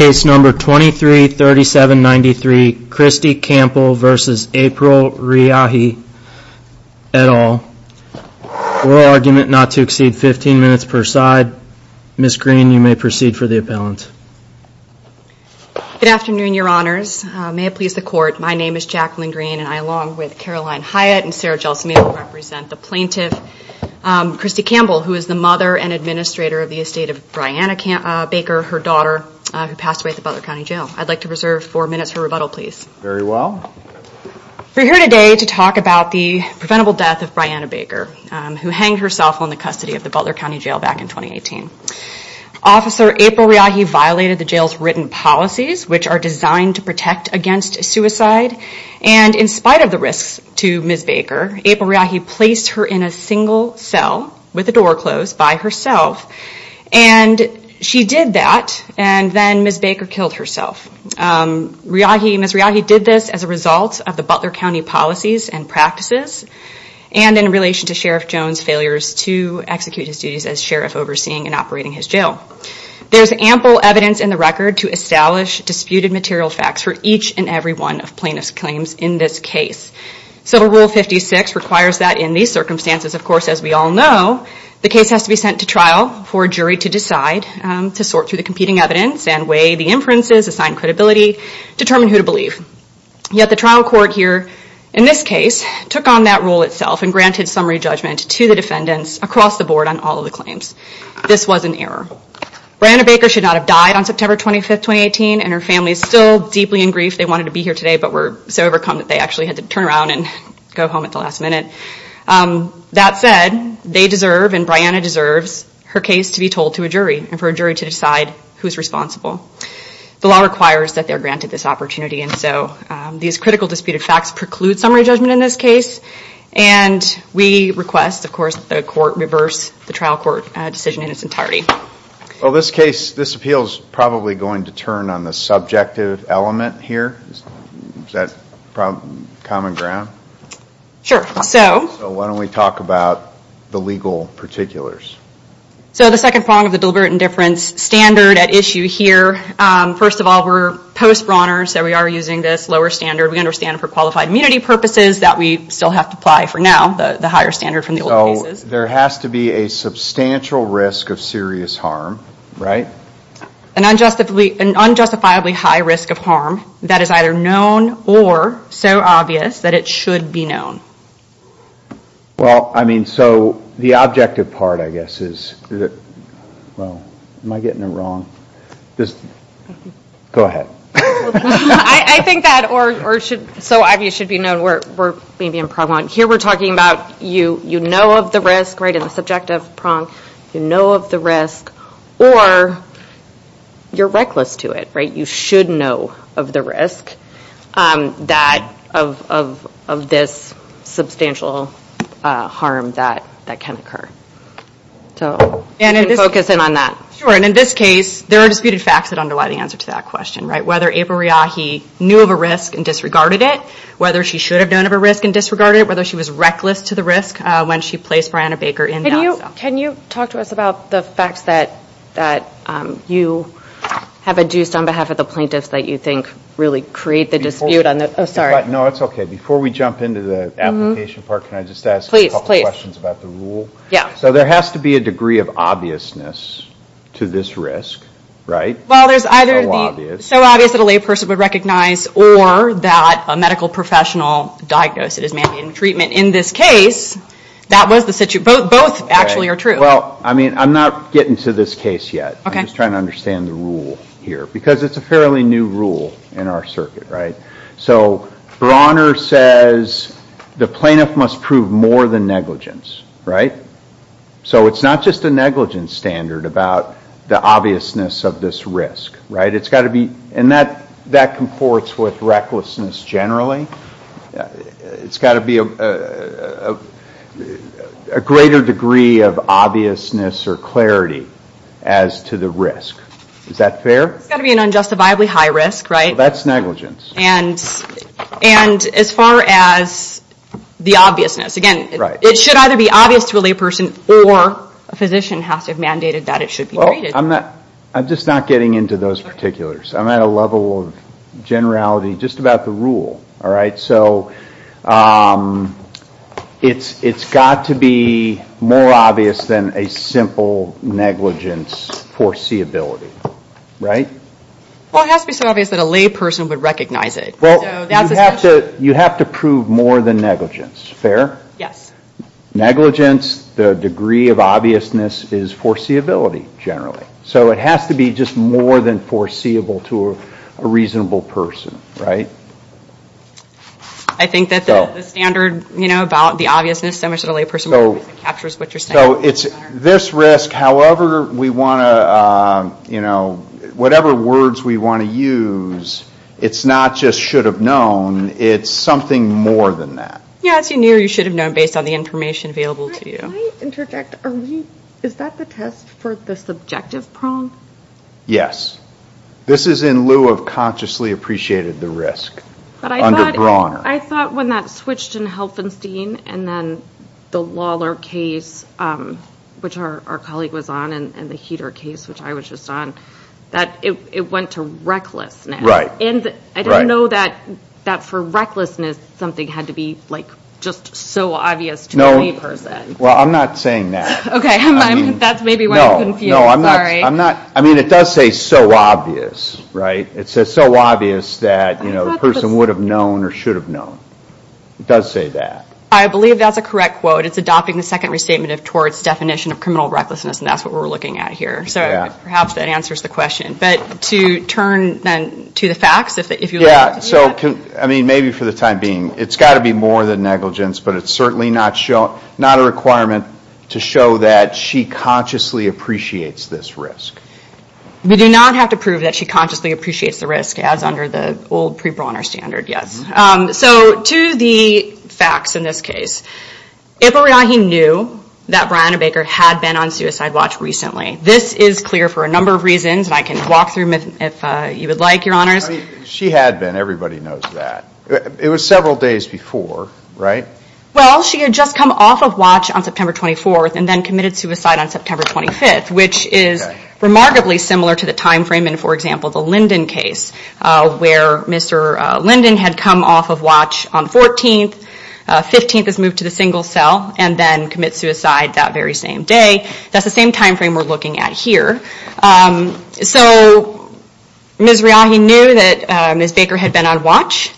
at all. Oral argument not to exceed 15 minutes per side. Ms. Greene, you may proceed for the appellant. Good afternoon, your honors. May it please the court, my name is Jacqueline Greene and I, along with Caroline Hyatt and Sarah Gelsman, will represent the plaintiff, Christi Campbell, who is the mother and administrator of the estate of Brianna Baker, her daughter. Who passed away at the Butler County Jail. I'd like to reserve four minutes for rebuttal, please. Very well. We're here today to talk about the preventable death of Brianna Baker, who hanged herself on the custody of the Butler County Jail back in 2018. Officer April Riahi violated the jail's written policies, which are designed to protect against suicide. And in spite of the risks to Ms. Baker, April Riahi placed her in a single cell with the door closed by herself. And she did that, and then Ms. Baker killed herself. Ms. Riahi did this as a result of the Butler County policies and practices. And in relation to Sheriff Jones' failures to execute his duties as sheriff overseeing and operating his jail. There's ample evidence in the record to establish disputed material facts for each and every one of plaintiff's claims in this case. So Rule 56 requires that in these circumstances, of course, as we all know, the case has to be sent to trial for a jury to decide. To sort through the competing evidence and weigh the inferences, assign credibility, determine who to believe. Yet the trial court here, in this case, took on that role itself and granted summary judgment to the defendants across the board on all of the claims. This was an error. Brianna Baker should not have died on September 25th, 2018, and her family is still deeply in grief. They wanted to be here today, but were so overcome that they actually had to turn around and go home at the last minute. That said, they deserve, and Brianna deserves, her case to be told to a jury and for a jury to decide who's responsible. The law requires that they are granted this opportunity, and so these critical disputed facts preclude summary judgment in this case. And we request, of course, that the court reverse the trial court decision in its entirety. Well, this case, this appeal is probably going to turn on the subjective element here. Is that common ground? Sure. So? So why don't we talk about the legal particulars? So the second prong of the deliberate indifference standard at issue here, first of all, we're post-Brawner, so we are using this lower standard. We understand for qualified immunity purposes that we still have to apply, for now, the higher standard from the old cases. There has to be a substantial risk of serious harm, right? An unjustifiably high risk of harm that is either known or so obvious that it should be known. Well, I mean, so the objective part, I guess, is that, well, am I getting it wrong? Go ahead. I think that or should, so obvious should be known, we're being impregnable. Here we're talking about you know of the risk, right, in the subjective prong. You know of the risk or you're reckless to it, right? You should know of the risk of this substantial harm that can occur. So can you focus in on that? Sure. And in this case, there are disputed facts that underlie the answer to that question, right? Whether April Reahi knew of a risk and disregarded it, whether she should have known of a risk and disregarded it, or whether she was reckless to the risk when she placed Brianna Baker in that cell. Can you talk to us about the facts that you have adduced on behalf of the plaintiffs that you think really create the dispute? Oh, sorry. No, it's okay. Before we jump into the application part, can I just ask a couple questions about the rule? Please, please. Yeah. So there has to be a degree of obviousness to this risk, right? Well, there's either the so obvious that a lay person would recognize or that a medical professional diagnosed it as man-made treatment. In this case, that was the situation. Both actually are true. Well, I mean, I'm not getting to this case yet. Okay. I'm just trying to understand the rule here because it's a fairly new rule in our circuit, right? So Bronner says the plaintiff must prove more than negligence, right? So it's not just a negligence standard about the obviousness of this risk, right? It's got to be, and that comports with recklessness generally. It's got to be a greater degree of obviousness or clarity as to the risk. Is that fair? It's got to be an unjustifiably high risk, right? That's negligence. And as far as the obviousness, again, it should either be obvious to a lay person or a physician has to have mandated that it should be treated. Well, I'm just not getting into those particulars. I'm at a level of generality just about the rule, all right? So it's got to be more obvious than a simple negligence foreseeability, right? Well, it has to be so obvious that a lay person would recognize it. Well, you have to prove more than negligence. Fair? Yes. Negligence, the degree of obviousness is foreseeability generally. So it has to be just more than foreseeable to a reasonable person, right? I think that the standard, you know, about the obviousness so much that a lay person captures what you're saying. So it's this risk, however we want to, you know, whatever words we want to use, it's not just should have known. It's something more than that. Yes, you knew you should have known based on the information available to you. Can I interject? Is that the test for the subjective prong? Yes. This is in lieu of consciously appreciated the risk. But I thought when that switched in Helfenstein and then the Lawler case, which our colleague was on and the Heeter case, which I was just on, that it went to recklessness. Right. And I don't know that for recklessness something had to be like just so obvious to any person. No. Well, I'm not saying that. Okay. That's maybe why I'm confused. Sorry. No, I'm not. I mean, it does say so obvious, right? It says so obvious that, you know, the person would have known or should have known. It does say that. I believe that's a correct quote. It's adopting the second restatement towards definition of criminal recklessness, and that's what we're looking at here. So perhaps that answers the question. But to turn then to the facts, if you like. So, I mean, maybe for the time being, it's got to be more than negligence, but it's certainly not a requirement to show that she consciously appreciates this risk. We do not have to prove that she consciously appreciates the risk as under the old prebrauner standard, yes. So to the facts in this case, Ibrahim knew that Brianna Baker had been on suicide watch recently. This is clear for a number of reasons, and I can walk through them if you would like, Your Honors. She had been. Everybody knows that. It was several days before, right? Well, she had just come off of watch on September 24th and then committed suicide on September 25th, which is remarkably similar to the time frame in, for example, the Linden case, where Mr. Linden had come off of watch on the 14th, 15th was moved to the single cell, and then commit suicide that very same day. That's the same time frame we're looking at here. So Ms. Riahi knew that Ms. Baker had been on watch.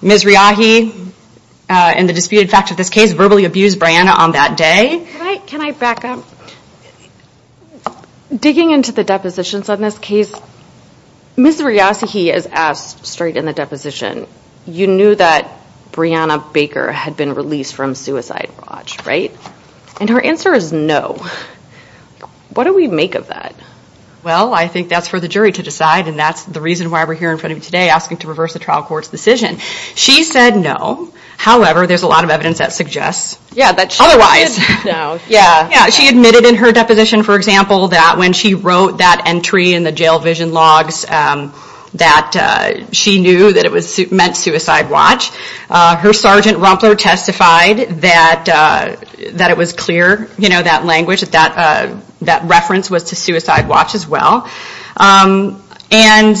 Ms. Riahi, in the disputed facts of this case, verbally abused Brianna on that day. Can I back up? Digging into the depositions on this case, Ms. Riahi is asked straight in the deposition, you knew that Brianna Baker had been released from suicide watch, right? And her answer is no. What do we make of that? Well, I think that's for the jury to decide, and that's the reason why we're here in front of you today, asking to reverse the trial court's decision. She said no. However, there's a lot of evidence that suggests otherwise. She admitted in her deposition, for example, that when she wrote that entry in the jail vision logs, that she knew that it meant suicide watch. Her Sergeant Rumpler testified that it was clear, that language, that reference was to suicide watch as well. And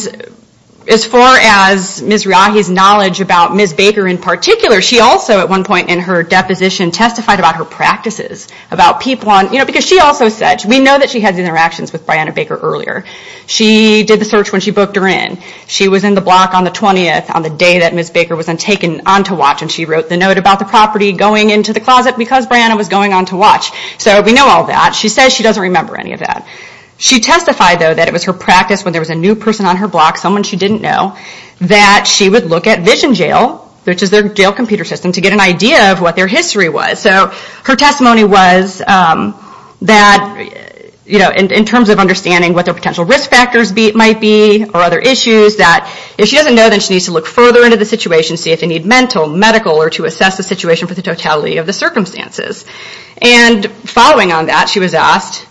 as far as Ms. Riahi's knowledge about Ms. Baker in particular, she also at one point in her deposition testified about her practices, about people on, you know, because she also said, we know that she had interactions with Brianna Baker earlier. She did the search when she booked her in. She was in the block on the 20th, on the day that Ms. Baker was taken on to watch, and she wrote the note about the property going into the closet, because Brianna was going on to watch. So we know all that. She says she doesn't remember any of that. She testified, though, that it was her practice, when there was a new person on her block, someone she didn't know, that she would look at Vision Jail, which is their jail computer system, to get an idea of what their history was. So her testimony was that, you know, in terms of understanding what their potential risk factors might be, or other issues, that if she doesn't know, then she needs to look further into the situation, see if they need mental, medical, or to assess the situation for the totality of the circumstances. And following on that, she was asked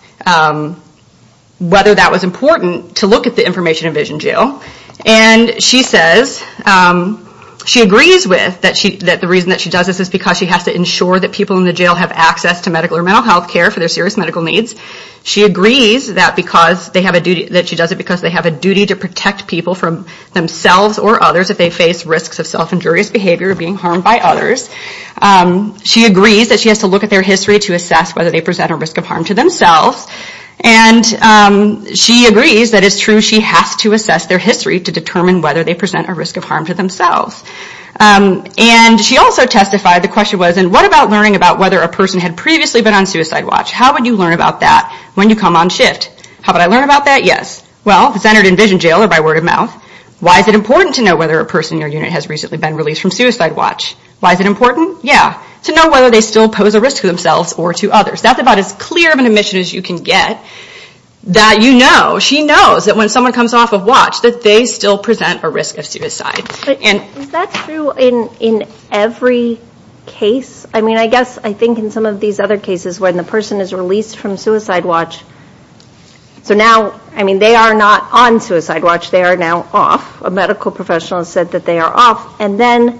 whether that was important, to look at the information in Vision Jail. And she says, she agrees with that the reason that she does this is because she has to ensure that people in the jail have access to medical or mental health care for their serious medical needs. She agrees that she does it because they have a duty to protect people from themselves or others if they face risks of self-injurious behavior or being harmed by others. She agrees that she has to look at their history to assess whether they present a risk of harm to themselves. And she agrees that it's true she has to assess their history to determine whether they present a risk of harm to themselves. And she also testified, the question was, and what about learning about whether a person had previously been on suicide watch? How would you learn about that when you come on shift? How would I learn about that? Yes. Well, if it's entered in Vision Jail or by word of mouth, why is it important to know whether a person in your unit has recently been released from suicide watch? Why is it important? Yeah. To know whether they still pose a risk to themselves or to others. That's about as clear of an admission as you can get. That you know, she knows that when someone comes off of watch that they still present a risk of suicide. Is that true in every case? I mean, I guess I think in some of these other cases when the person is released from suicide watch, so now, I mean, they are not on suicide watch. They are now off. A medical professional said that they are off. And then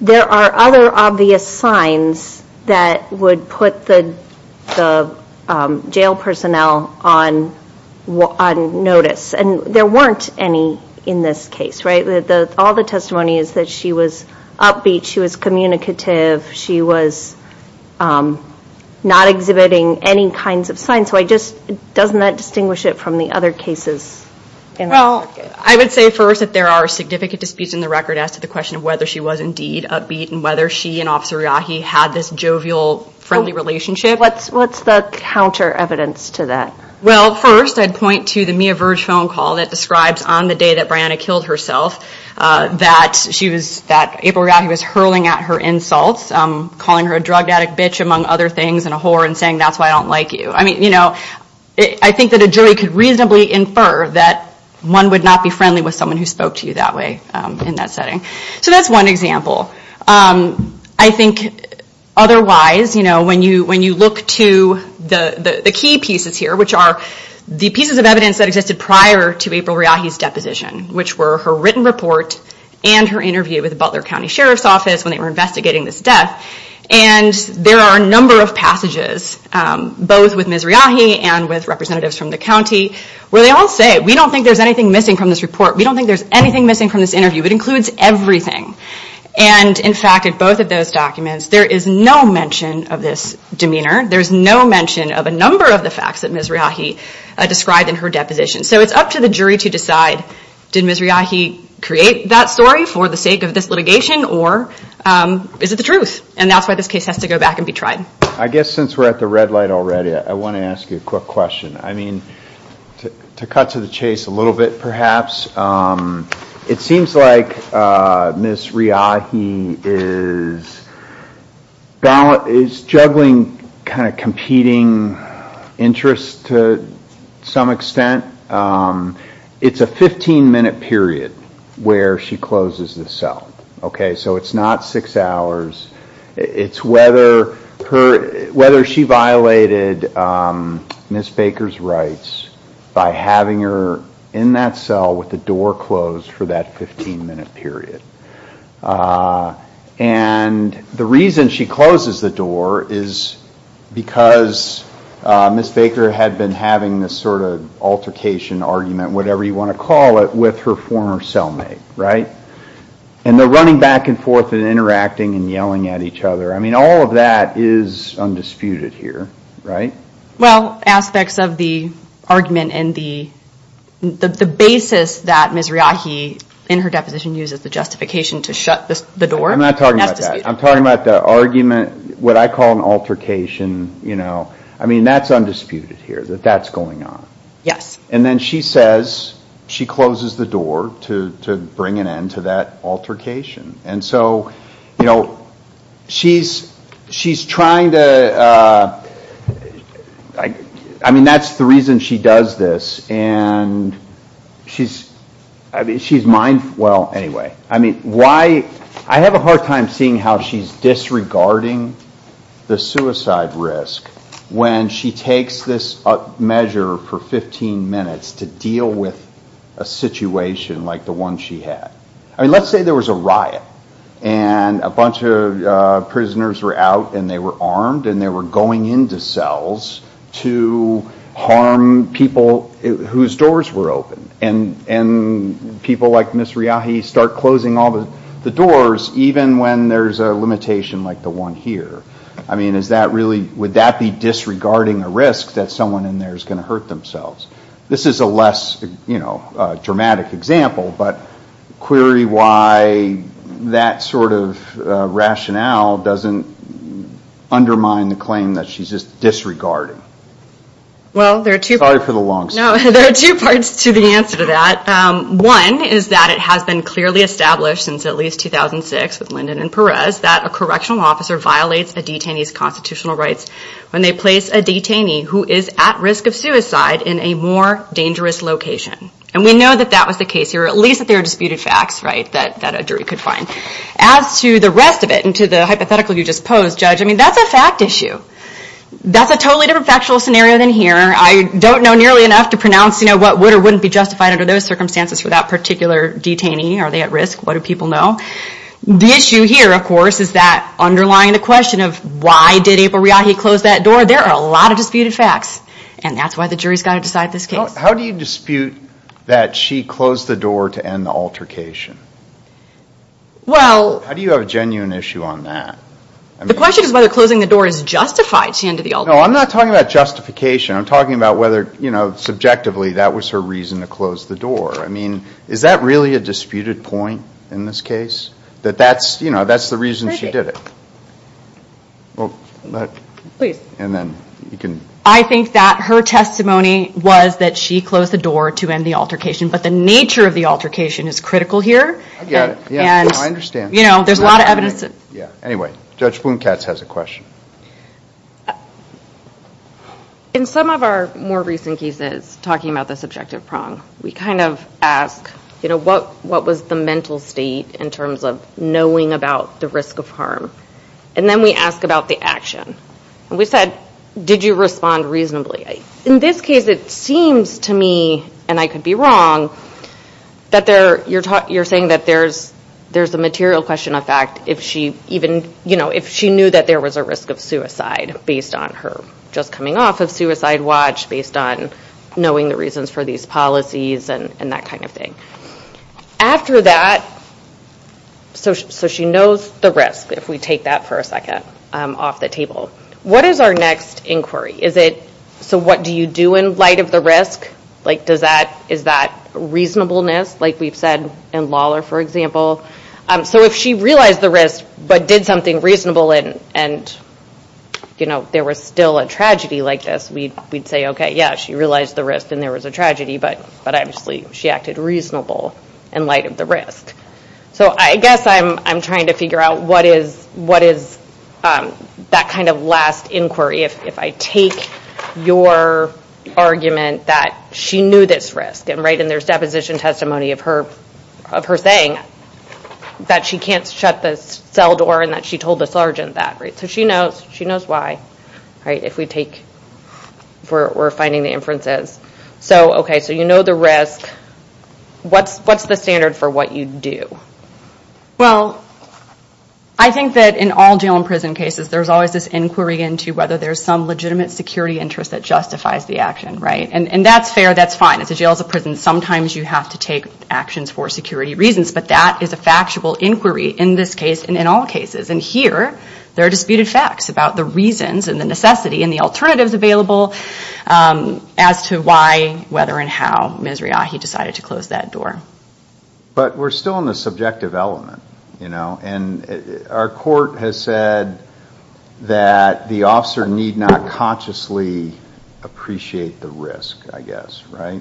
there are other obvious signs that would put the jail personnel on notice. And there weren't any in this case, right? All the testimony is that she was upbeat. She was communicative. She was not exhibiting any kinds of signs. So I just, doesn't that distinguish it from the other cases? Well, I would say first that there are significant disputes in the record as to the question of whether she was indeed upbeat and whether she and Officer Yaghi had this jovial friendly relationship. What's the counter evidence to that? Well, first I'd point to the Mia Verge phone call that describes on the day that Brianna killed herself that she was, that April Yaghi was hurling at her insults, calling her a drug addict, bitch, among other things, and a whore and saying that's why I don't like you. I mean, you know, I think that a jury could reasonably infer that one would not be friendly with someone who spoke to you that way in that setting. So that's one example. I think otherwise, you know, when you look to the key pieces here, which are the pieces of evidence that existed prior to April Yaghi's deposition, which were her written report and her interview with the Butler County Sheriff's Office when they were investigating this death, and there are a number of passages, both with Ms. Riaghi and with representatives from the county, where they all say we don't think there's anything missing from this report. We don't think there's anything missing from this interview. It includes everything. And in fact, in both of those documents, there is no mention of this demeanor. There's no mention of a number of the facts that Ms. Riaghi described in her deposition. So it's up to the jury to decide, did Ms. Riaghi create that story for the sake of this litigation, or is it the truth? And that's why this case has to go back and be tried. I guess since we're at the red light already, I want to ask you a quick question. I mean, to cut to the chase a little bit perhaps, it seems like Ms. Riaghi is juggling kind of competing interests to some extent. It's a 15-minute period where she closes the cell. Okay, so it's not six hours. It's whether she violated Ms. Baker's rights by having her in that cell with the door closed for that 15-minute period. And the reason she closes the door is because Ms. Baker had been having this sort of altercation, argument, whatever you want to call it, with her former cellmate, right? And they're running back and forth and interacting and yelling at each other. I mean, all of that is undisputed here, right? Well, aspects of the argument and the basis that Ms. Riaghi in her deposition uses the justification to shut the door. I'm not talking about that. I'm talking about the argument, what I call an altercation. I mean, that's undisputed here, that that's going on. Yes. And then she says she closes the door to bring an end to that altercation. And so she's trying to, I mean, that's the reason she does this. And she's mindful. Well, anyway, I have a hard time seeing how she's disregarding the suicide risk when she takes this measure for 15 minutes to deal with a situation like the one she had. I mean, let's say there was a riot and a bunch of prisoners were out and they were armed and they were going into cells to harm people whose doors were open. And people like Ms. Riaghi start closing all the doors even when there's a limitation like the one here. I mean, is that really, would that be disregarding a risk that someone in there is going to hurt themselves? This is a less dramatic example, but query why that sort of rationale doesn't undermine the claim that she's just disregarding. Sorry for the long story. No, there are two parts to the answer to that. One is that it has been clearly established since at least 2006 with Lyndon and Perez that a correctional officer violates a detainee's constitutional rights when they place a detainee who is at risk of suicide in a more dangerous location. And we know that that was the case here. At least that there are disputed facts that a jury could find. As to the rest of it and to the hypothetical you just posed, Judge, I mean, that's a fact issue. That's a totally different factual scenario than here. I don't know nearly enough to pronounce what would or wouldn't be justified under those circumstances for that particular detainee. Are they at risk? What do people know? The issue here, of course, is that underlying the question of why did April Riaghi close that door? There are a lot of disputed facts, and that's why the jury's got to decide this case. How do you dispute that she closed the door to end the altercation? How do you have a genuine issue on that? The question is whether closing the door is justified. No, I'm not talking about justification. I'm talking about whether subjectively that was her reason to close the door. I mean, is that really a disputed point in this case, that that's the reason she did it? Please. I think that her testimony was that she closed the door to end the altercation, but the nature of the altercation is critical here. I get it. I understand. There's a lot of evidence. Anyway, Judge Blomkatz has a question. In some of our more recent cases, talking about the subjective prong, we kind of ask what was the mental state in terms of knowing about the risk of harm? Then we ask about the action. We said, did you respond reasonably? In this case, it seems to me, and I could be wrong, that you're saying that there's a material question of fact if she knew that there was a risk of suicide based on her just coming off of suicide watch, based on knowing the reasons for these policies and that kind of thing. After that, so she knows the risk, if we take that for a second off the table. What is our next inquiry? So what do you do in light of the risk? Is that reasonableness, like we've said in Lawler, for example? So if she realized the risk but did something reasonable and there was still a tragedy like this, we'd say, okay, yeah, she realized the risk and there was a tragedy, but obviously she acted reasonable in light of the risk. So I guess I'm trying to figure out what is that kind of last inquiry if I take your argument that she knew this risk, and there's deposition testimony of her saying that she can't shut the cell door and that she told the sergeant that. So she knows why if we're finding the inferences. Okay, so you know the risk. What's the standard for what you do? Well, I think that in all jail and prison cases, there's always this inquiry into whether there's some legitimate security interest that justifies the action, right? And that's fair, that's fine. As a jail, as a prison, sometimes you have to take actions for security reasons, but that is a factual inquiry in this case and in all cases. And here there are disputed facts about the reasons and the necessity and the alternatives available as to why, whether, and how Ms. Reahi decided to close that door. But we're still in the subjective element, you know, and our court has said that the officer need not consciously appreciate the risk, I guess, right?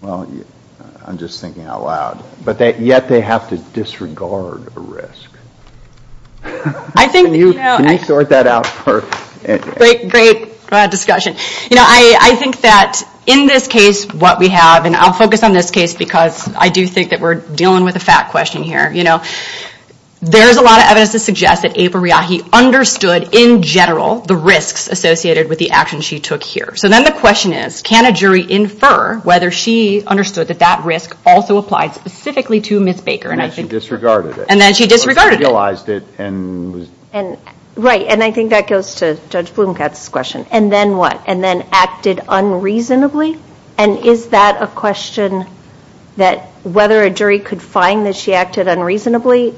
Well, I'm just thinking out loud. But yet they have to disregard a risk. Can you sort that out for me? Great, great discussion. You know, I think that in this case what we have, and I'll focus on this case because I do think that we're dealing with a fact question here. You know, there's a lot of evidence to suggest that April Reahi understood, in general, the risks associated with the actions she took here. So then the question is, can a jury infer whether she understood that that risk also applied specifically to Ms. Baker? And then she disregarded it. And then she disregarded it. Right, and I think that goes to Judge Blumkatz's question. And then what? And then acted unreasonably? And is that a question that whether a jury could find that she acted unreasonably,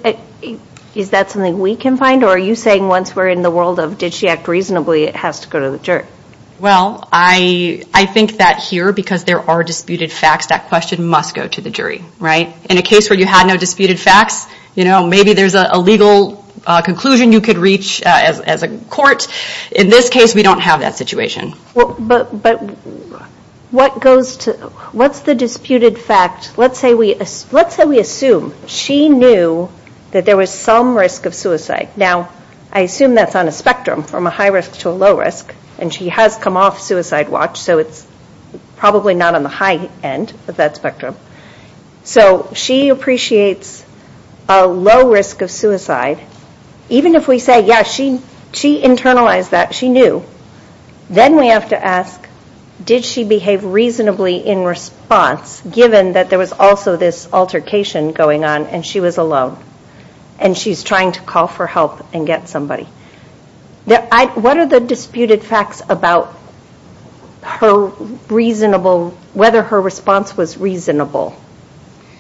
is that something we can find? Or are you saying once we're in the world of did she act reasonably, it has to go to the jury? Well, I think that here, because there are disputed facts, that question must go to the jury, right? In a case where you had no disputed facts, you know, maybe there's a legal conclusion you could reach as a court. In this case, we don't have that situation. But what's the disputed fact? Let's say we assume she knew that there was some risk of suicide. Now, I assume that's on a spectrum from a high risk to a low risk, and she has come off suicide watch, so it's probably not on the high end of that spectrum. So she appreciates a low risk of suicide. Even if we say, yeah, she internalized that, she knew, then we have to ask did she behave reasonably in response, given that there was also this altercation going on and she was alone and she's trying to call for help and get somebody. What are the disputed facts about her reasonable, whether her response was reasonable?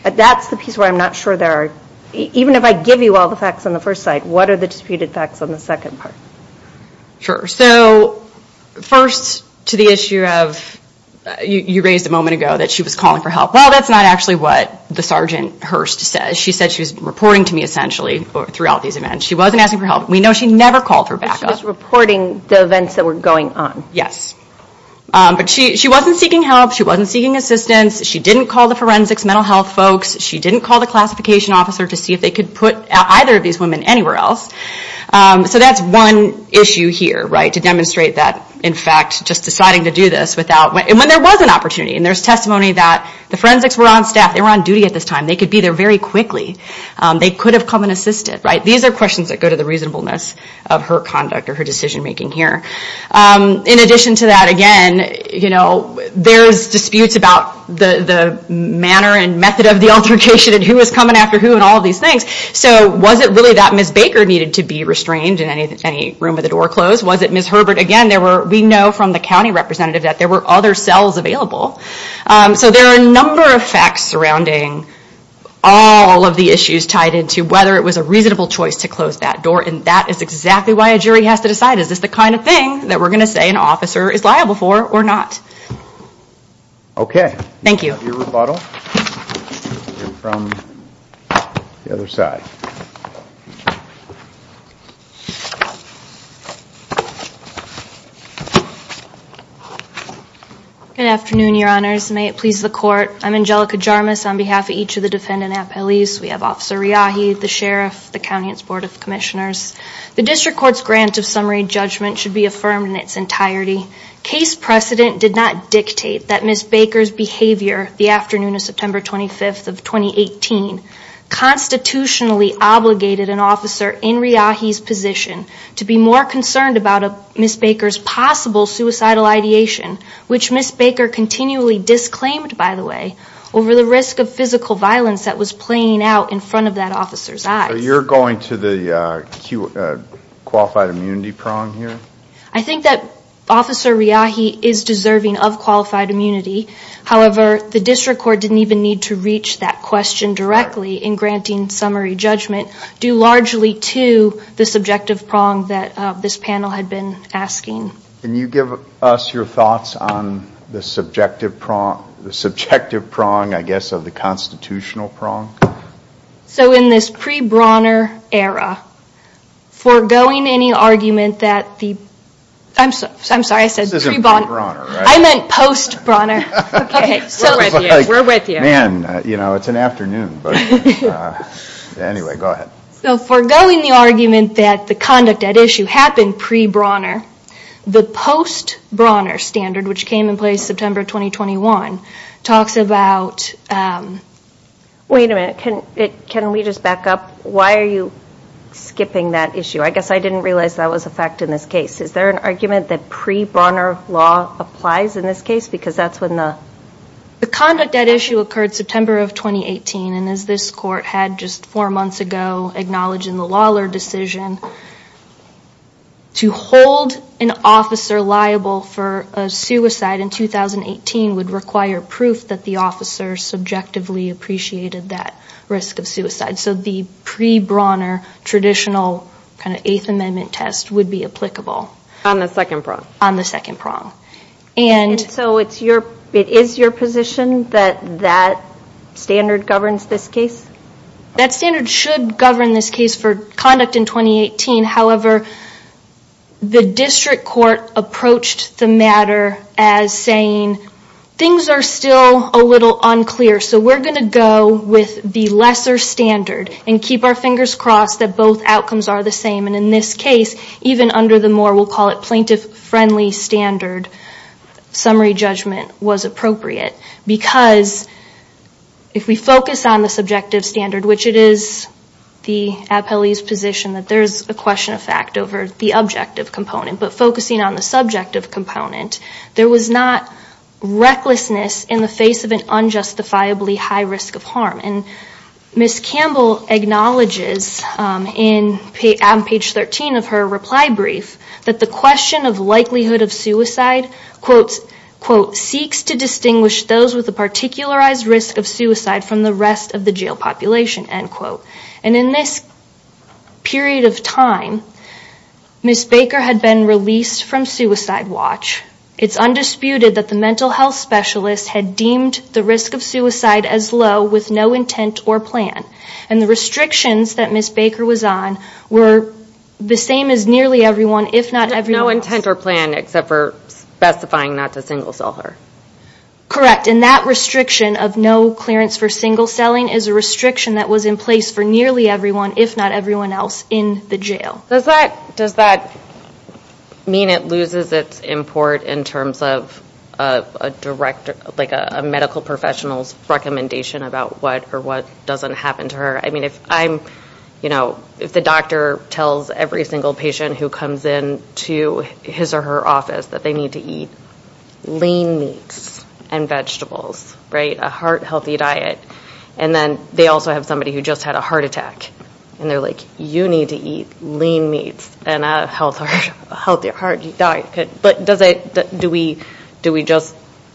That's the piece where I'm not sure there are, even if I give you all the facts on the first side, what are the disputed facts on the second part? Sure. So first to the issue of you raised a moment ago that she was calling for help. Well, that's not actually what the Sergeant Hurst says. She said she was reporting to me essentially throughout these events. She wasn't asking for help. We know she never called for backup. She was reporting the events that were going on. Yes. But she wasn't seeking help. She wasn't seeking assistance. She didn't call the forensics mental health folks. She didn't call the classification officer to see if they could put either of these women anywhere else. So that's one issue here, right, to demonstrate that, in fact, just deciding to do this without, and when there was an opportunity and there's testimony that the forensics were on staff, they were on duty at this time, they could be there very quickly, they could have come and assisted. These are questions that go to the reasonableness of her conduct or her decision making here. In addition to that, again, there's disputes about the manner and method of the altercation and who was coming after who and all of these things. So was it really that Ms. Baker needed to be restrained in any room with the door closed? Was it Ms. Herbert? Again, we know from the county representative that there were other cells available. So there are a number of facts surrounding all of the issues tied into whether it was a reasonable choice to close that door, and that is exactly why a jury has to decide is this the kind of thing that we're going to say an officer is liable for or not. Okay. Thank you. Your rebuttal from the other side. Good afternoon, Your Honors. May it please the Court. I'm Angelica Jarmus on behalf of each of the defendant at police. We have Officer Riahi, the sheriff, the county and its board of commissioners. The district court's grant of summary judgment should be affirmed in its entirety. Case precedent did not dictate that Ms. Baker's behavior the afternoon of September 25th of 2018 constitutionally obligated an officer in Riahi's position to be more concerned about Ms. Baker's possible suicidal ideation, which Ms. Baker continually disclaimed, by the way, over the risk of physical violence that was playing out in front of that officer's eyes. So you're going to the qualified immunity prong here? I think that Officer Riahi is deserving of qualified immunity. However, the district court didn't even need to reach that question directly in granting summary judgment, due largely to the subjective prong that this panel had been asking. Can you give us your thoughts on the subjective prong, I guess, of the constitutional prong? So in this pre-Brauner era, foregoing any argument that the – I'm sorry, I said pre-Brauner. I meant post-Brauner. Okay. We're with you. Man, you know, it's an afternoon. Anyway, go ahead. So foregoing the argument that the conduct at issue happened pre-Brauner, the post-Brauner standard, which came in place September 2021, talks about – Wait a minute. Can we just back up? Why are you skipping that issue? I guess I didn't realize that was a fact in this case. Is there an argument that pre-Brauner law applies in this case? Because that's when the – The conduct at issue occurred September of 2018, and as this court had just four months ago acknowledged in the Lawlor decision, to hold an officer liable for a suicide in 2018 would require proof that the officer subjectively appreciated that risk of suicide. So the pre-Brauner traditional kind of Eighth Amendment test would be applicable. On the second prong. On the second prong. And so it's your – it is your position that that standard governs this case? That standard should govern this case for conduct in 2018. However, the district court approached the matter as saying, things are still a little unclear, so we're going to go with the lesser standard and keep our fingers crossed that both outcomes are the same. And in this case, even under the more, we'll call it, plaintiff-friendly standard, summary judgment was appropriate. Because if we focus on the subjective standard, which it is the appellee's position that there's a question of fact over the objective component, but focusing on the subjective component, there was not recklessness in the face of an unjustifiably high risk of harm. And Ms. Campbell acknowledges on page 13 of her reply brief, that the question of likelihood of suicide, quote, quote, seeks to distinguish those with a particularized risk of suicide from the rest of the jail population, end quote. And in this period of time, Ms. Baker had been released from suicide watch. It's undisputed that the mental health specialist had deemed the risk of suicide as low, with no intent or plan. And the restrictions that Ms. Baker was on were the same as nearly everyone, if not everyone else. No intent or plan, except for specifying not to single cell her. Correct. And that restriction of no clearance for single celling is a restriction that was in place for nearly everyone, if not everyone else in the jail. Does that mean it loses its import in terms of a medical professional's recommendation about what or what doesn't happen to her? I mean, if I'm, you know, if the doctor tells every single patient who comes in to his or her office that they need to eat lean meats and vegetables, right, a heart healthy diet, and then they also have somebody who just had a heart attack, and they're like, you need to eat lean meats and a heart healthy diet. But does it, do we just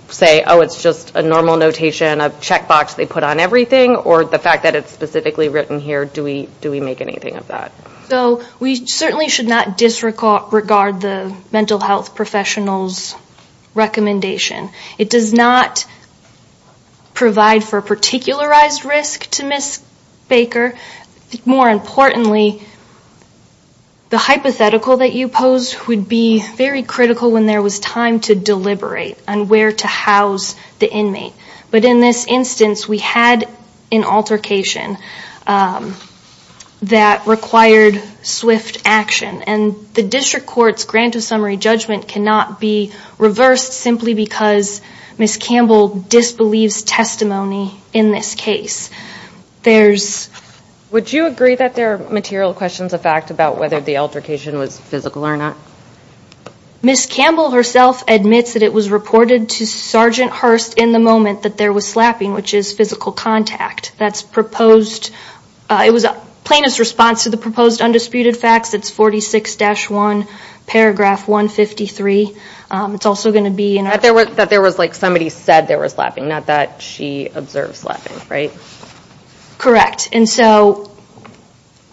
say, oh, it's just a normal notation, a checkbox they put on everything, or the fact that it's specifically written here, do we make anything of that? So we certainly should not disregard the mental health professional's recommendation. It does not provide for a particularized risk to Ms. Baker. More importantly, the hypothetical that you posed would be very critical when there was time to deliberate on where to house the inmate. But in this instance, we had an altercation that required swift action. And the district court's grant of summary judgment cannot be reversed simply because Ms. Campbell disbelieves testimony in this case. There's- Would you agree that there are material questions of fact about whether the altercation was physical or not? Ms. Campbell herself admits that it was reported to Sergeant Hurst in the moment that there was slapping, which is physical contact. That's proposed, it was a plaintiff's response to the proposed undisputed facts. It's 46-1, paragraph 153. It's also going to be- That there was, like, somebody said there was slapping, not that she observes slapping, right? Correct. And so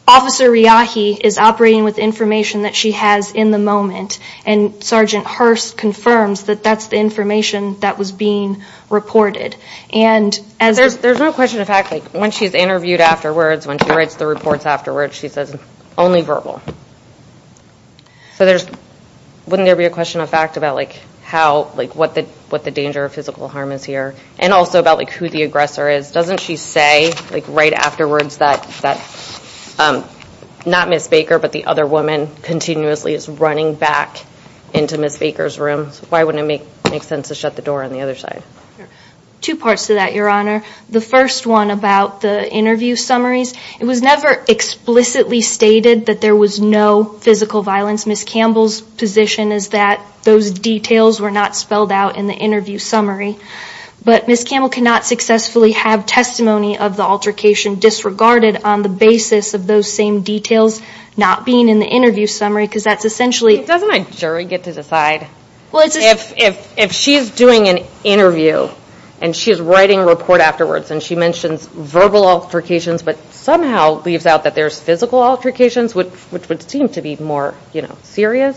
Officer Riahi is operating with information that she has in the moment, and Sergeant Hurst confirms that that's the information that was being reported. And as- There's no question of fact. Like, when she's interviewed afterwards, when she writes the reports afterwards, she says, only verbal. So there's- Wouldn't there be a question of fact about, like, how, like, what the danger of physical harm is here, and also about, like, who the aggressor is? Doesn't she say, like, right afterwards that not Ms. Baker but the other woman continuously is running back into Ms. Baker's room? Why wouldn't it make sense to shut the door on the other side? Two parts to that, Your Honor. The first one about the interview summaries, it was never explicitly stated that there was no physical violence. Ms. Campbell's position is that those details were not spelled out in the interview summary. But Ms. Campbell cannot successfully have testimony of the altercation disregarded on the basis of those same details not being in the interview summary because that's essentially- Doesn't a jury get to decide? Well, it's- If she's doing an interview and she's writing a report afterwards and she mentions verbal altercations, but somehow leaves out that there's physical altercations, which would seem to be more, you know, serious.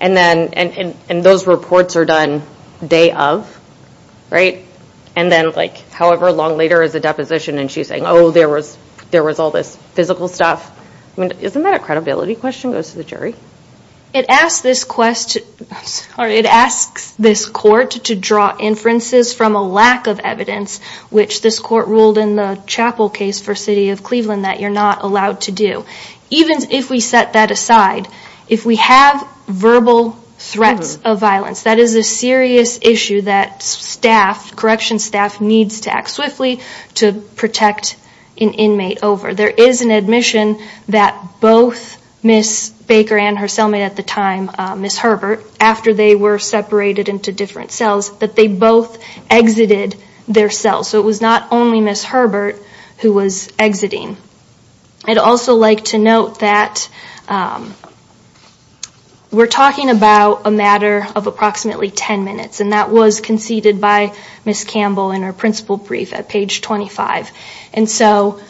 And then- And those reports are done day of, right? And then, like, however long later is the deposition, and she's saying, oh, there was all this physical stuff. I mean, isn't that a credibility question, goes to the jury? It asks this quest- Sorry, it asks this court to draw inferences from a lack of evidence which this court ruled in the Chapel case for the city of Cleveland that you're not allowed to do. Even if we set that aside, if we have verbal threats of violence, that is a serious issue that staff, correction staff, needs to act swiftly to protect an inmate over. There is an admission that both Ms. Baker and her cellmate at the time, Ms. Herbert, after they were separated into different cells, that they both exited their cells. So it was not only Ms. Herbert who was exiting. I'd also like to note that we're talking about a matter of approximately 10 minutes, and that was conceded by Ms. Campbell in her principal brief at page 25. And so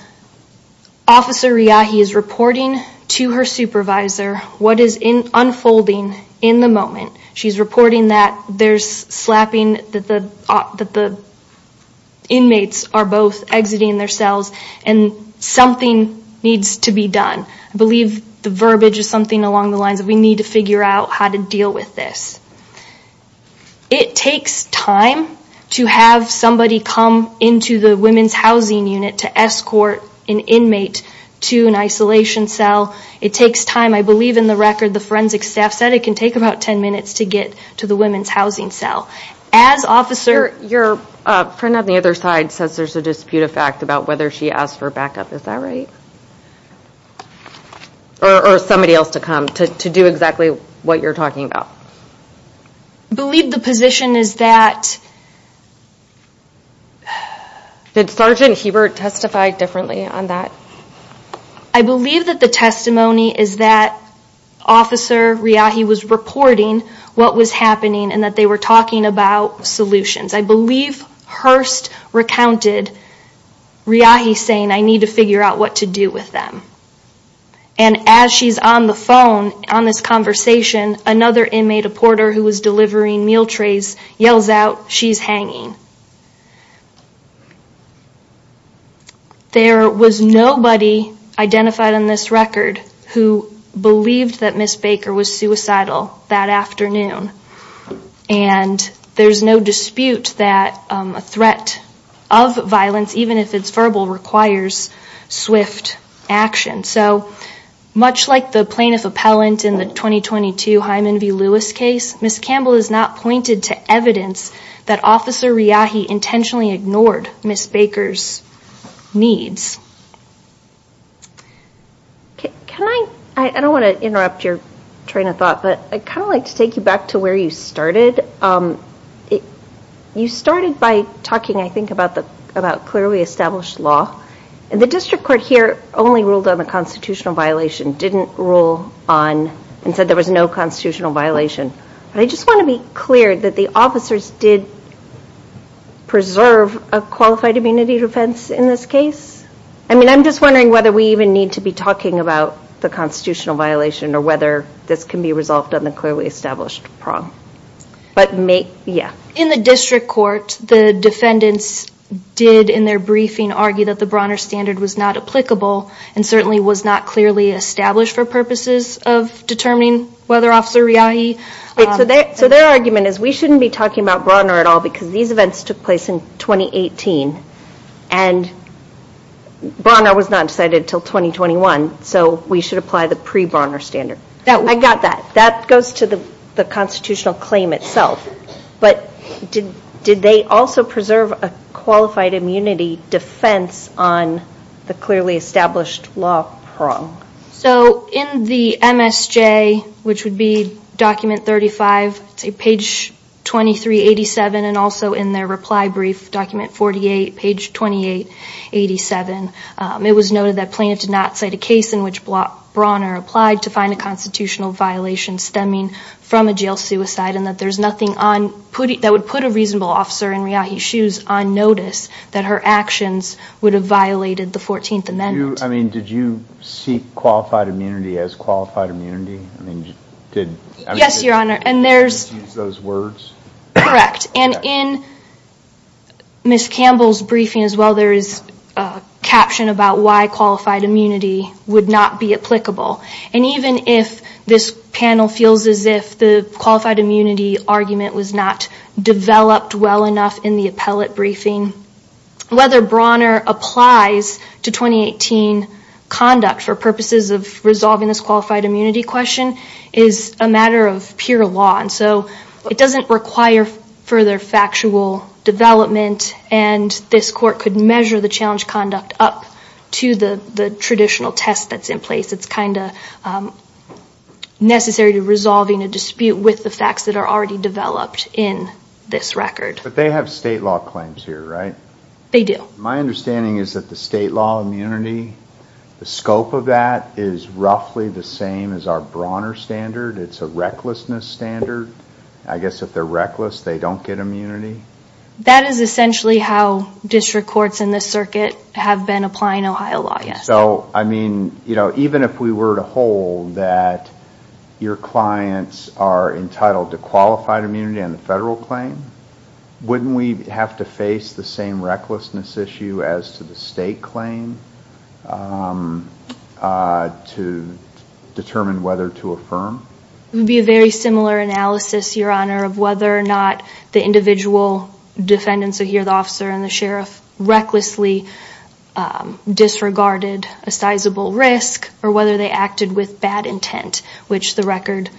Officer Riahi is reporting to her supervisor what is unfolding in the moment. She's reporting that there's slapping, that the inmates are both exiting their cells, and something needs to be done. I believe the verbiage is something along the lines of, we need to figure out how to deal with this. It takes time to have somebody come into the women's housing unit to escort an inmate to an isolation cell. It takes time. I believe in the record the forensic staff said it can take about 10 minutes to get to the women's housing cell. Your friend on the other side says there's a dispute of fact about whether she asked for backup. Is that right? Or somebody else to come to do exactly what you're talking about. I believe the position is that... Did Sergeant Hebert testify differently on that? I believe that the testimony is that Officer Riahi was reporting what was happening and that they were talking about solutions. I believe Hurst recounted Riahi saying, I need to figure out what to do with them. And as she's on the phone on this conversation, another inmate, a porter who was delivering meal trays, yells out, she's hanging. There was nobody identified on this record who believed that Ms. Baker was suicidal that afternoon. And there's no dispute that a threat of violence, even if it's verbal, requires swift action. So much like the plaintiff appellant in the 2022 Hyman v. Lewis case, Ms. Campbell has not pointed to evidence that Officer Riahi intentionally ignored Ms. Baker's needs. I don't want to interrupt your train of thought, but I'd kind of like to take you back to where you started. You started by talking, I think, about clearly established law. And the district court here only ruled on the constitutional violation, didn't rule on, and said there was no constitutional violation. I just want to be clear that the officers did preserve a qualified immunity defense in this case? I mean, I'm just wondering whether we even need to be talking about the constitutional violation or whether this can be resolved on the clearly established prong. In the district court, the defendants did, in their briefing, argue that the Bronner standard was not applicable and certainly was not clearly established for purposes of determining whether Officer Riahi... So their argument is we shouldn't be talking about Bronner at all because these events took place in 2018, and Bronner was not decided until 2021, so we should apply the pre-Bronner standard. I got that. That goes to the constitutional claim itself. But did they also preserve a qualified immunity defense on the clearly established law prong? So in the MSJ, which would be document 35, page 2387, and also in their reply brief, document 48, page 2887, it was noted that plaintiff did not cite a case in which Bronner applied to find a constitutional violation stemming from a jail suicide and that there's nothing that would put a reasonable officer in Riahi's shoes on notice that her actions would have violated the 14th Amendment. I mean, did you see qualified immunity as qualified immunity? Yes, Your Honor, and there's... Correct. And in Ms. Campbell's briefing as well, there is a caption about why qualified immunity would not be applicable. And even if this panel feels as if the qualified immunity argument was not developed well enough in the appellate briefing, whether Bronner applies to 2018 conduct for purposes of resolving this qualified immunity question is a matter of pure law. And so it doesn't require further factual development, and this Court could measure the challenge conduct up to the traditional test that's in place. It's not necessary to resolving a dispute with the facts that are already developed in this record. But they have state law claims here, right? They do. My understanding is that the state law immunity, the scope of that is roughly the same as our Bronner standard. It's a recklessness standard. I guess if they're reckless, they don't get immunity? That is essentially how district courts in this circuit have been applying Ohio law, yes. So, I mean, even if we were to hold that your clients are entitled to qualified immunity on the federal claim, wouldn't we have to face the same recklessness issue as to the state claim to determine whether to affirm? It would be a very similar analysis, Your Honor, of whether or not the individual defendants are here, the officer and the sheriff, recklessly disregarded a sizable risk, or whether they acted with bad intent, which the record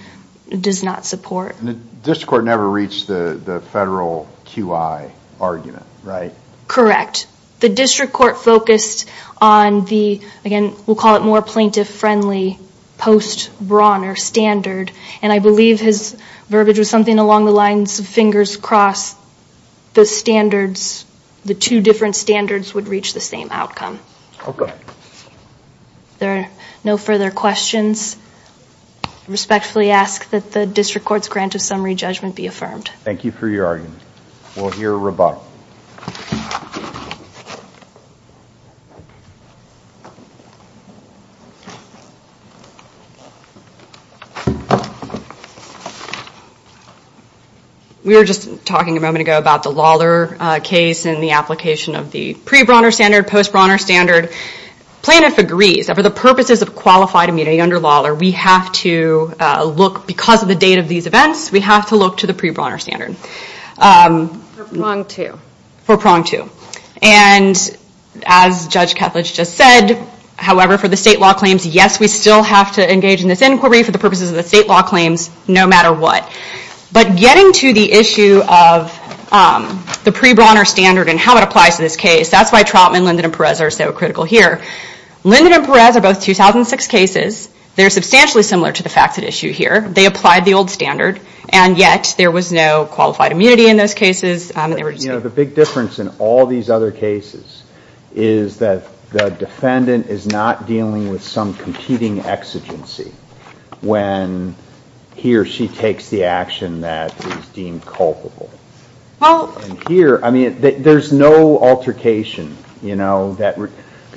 does not support. And the district court never reached the federal QI argument, right? Correct. The district court focused on the, again, we'll call it more plaintiff-friendly post-Bronner standard, and I believe his verbiage was something along the lines of fingers crossed, the standards, the two different standards would reach the same outcome. Okay. There are no further questions. I respectfully ask that the district court's grant of summary judgment be affirmed. Thank you for your argument. We'll hear a rebuttal. We were just talking a moment ago about the Lawler case and the application of the pre-Bronner standard, post-Bronner standard. Plaintiff agrees that for the purposes of qualified immunity under Lawler, we have to look, because of the date of these events, we have to look to the pre-Bronner standard. For prong two. And as Judge Kethledge just said, however, for the state law claims, yes, we still have to engage in this inquiry for the purposes of the state law claims, no matter what. But getting to the issue of the pre-Bronner standard and how it applies to this case, that's why Trotman, Linden, and Perez are so critical here. Linden and Perez are both 2006 cases. They're substantially similar to the facts at issue here. They applied the old standard, and yet there was no qualified immunity in those cases. The big difference in all these other cases is that the defendant is not dealing with some competing exigency when he or she takes the action that is deemed culpable. Here, there's no altercation.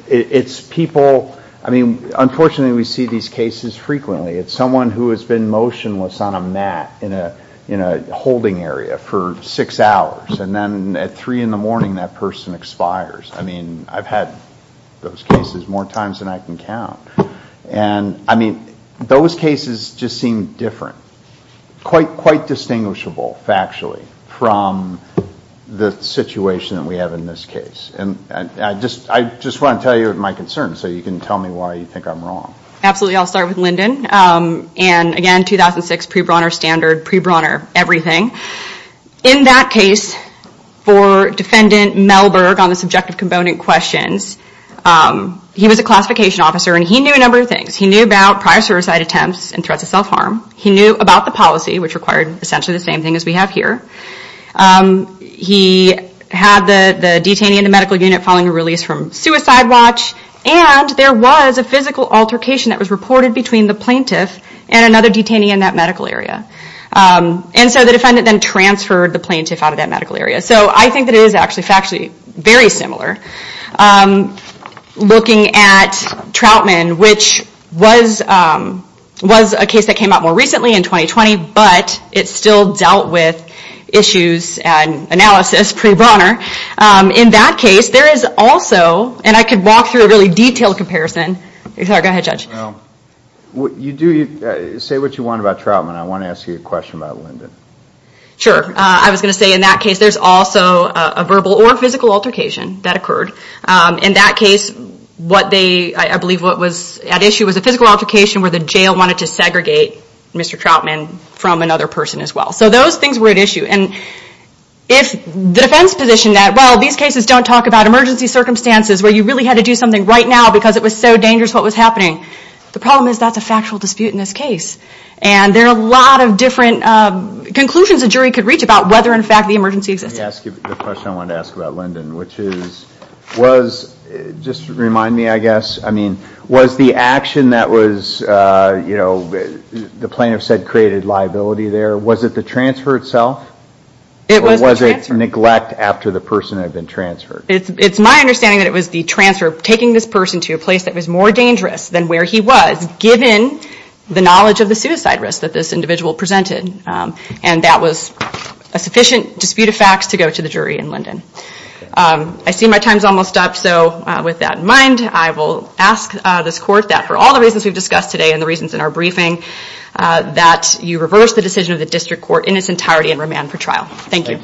It's people, I mean, unfortunately we see these cases frequently. It's someone who has been motionless on a mat in a holding area for six hours, and then at three in the morning that person expires. I've had those cases more times than I can count. Those cases just seem different, quite distinguishable factually, from the situation that we have in this case. I just want to tell you my concerns so you can tell me why you think I'm wrong. Absolutely. I'll start with Linden. Again, 2006 pre-Bronner standard, pre-Bronner everything. In that case, for Defendant Melberg on the subjective component questions, he was a classification officer and he knew a number of things. He knew about prior suicide attempts and threats of self-harm. He knew about the policy, which required essentially the same thing as we have here. He had the detainee in the medical unit following a release from Suicide Watch, and there was a physical altercation that was reported between the plaintiff and another detainee in that medical area. The defendant then transferred the plaintiff out of that medical area. I think that it is actually factually very similar. Looking at Troutman, which was a case that came out more recently in 2020, but it still dealt with issues and analysis pre-Bronner. In that case, there is also, and I could walk through a really detailed comparison. Go ahead, Judge. Say what you want about Troutman. I want to ask you a question about Lyndon. Sure. I was going to say in that case there is also a verbal or physical altercation that occurred. In that case, I believe what was at issue was a physical altercation where the jail wanted to segregate Mr. Troutman from another person as well. Those things were at issue. If the defense position that these cases don't talk about emergency circumstances where you really had to do something right now because it was so dangerous what was happening, the problem is that is a factual dispute in this case. There are a lot of different conclusions a jury could reach about whether in fact the emergency existed. Let me ask you the question I wanted to ask about Lyndon. Just remind me, I guess. Was the action that the plaintiff said created liability there, was it the transfer itself? Or was it neglect after the person had been transferred? It's my understanding that it was the transfer, taking this person to a place that was more dangerous than where he was, given the knowledge of the suicide risk that this individual presented. That was a sufficient dispute of facts to go to the jury in Lyndon. I see my time is almost up. With that in mind, I will ask this court that for all the reasons we've discussed today and the reasons in our briefing, that you reverse the decision of the district court in its entirety and remand for trial. Thank you.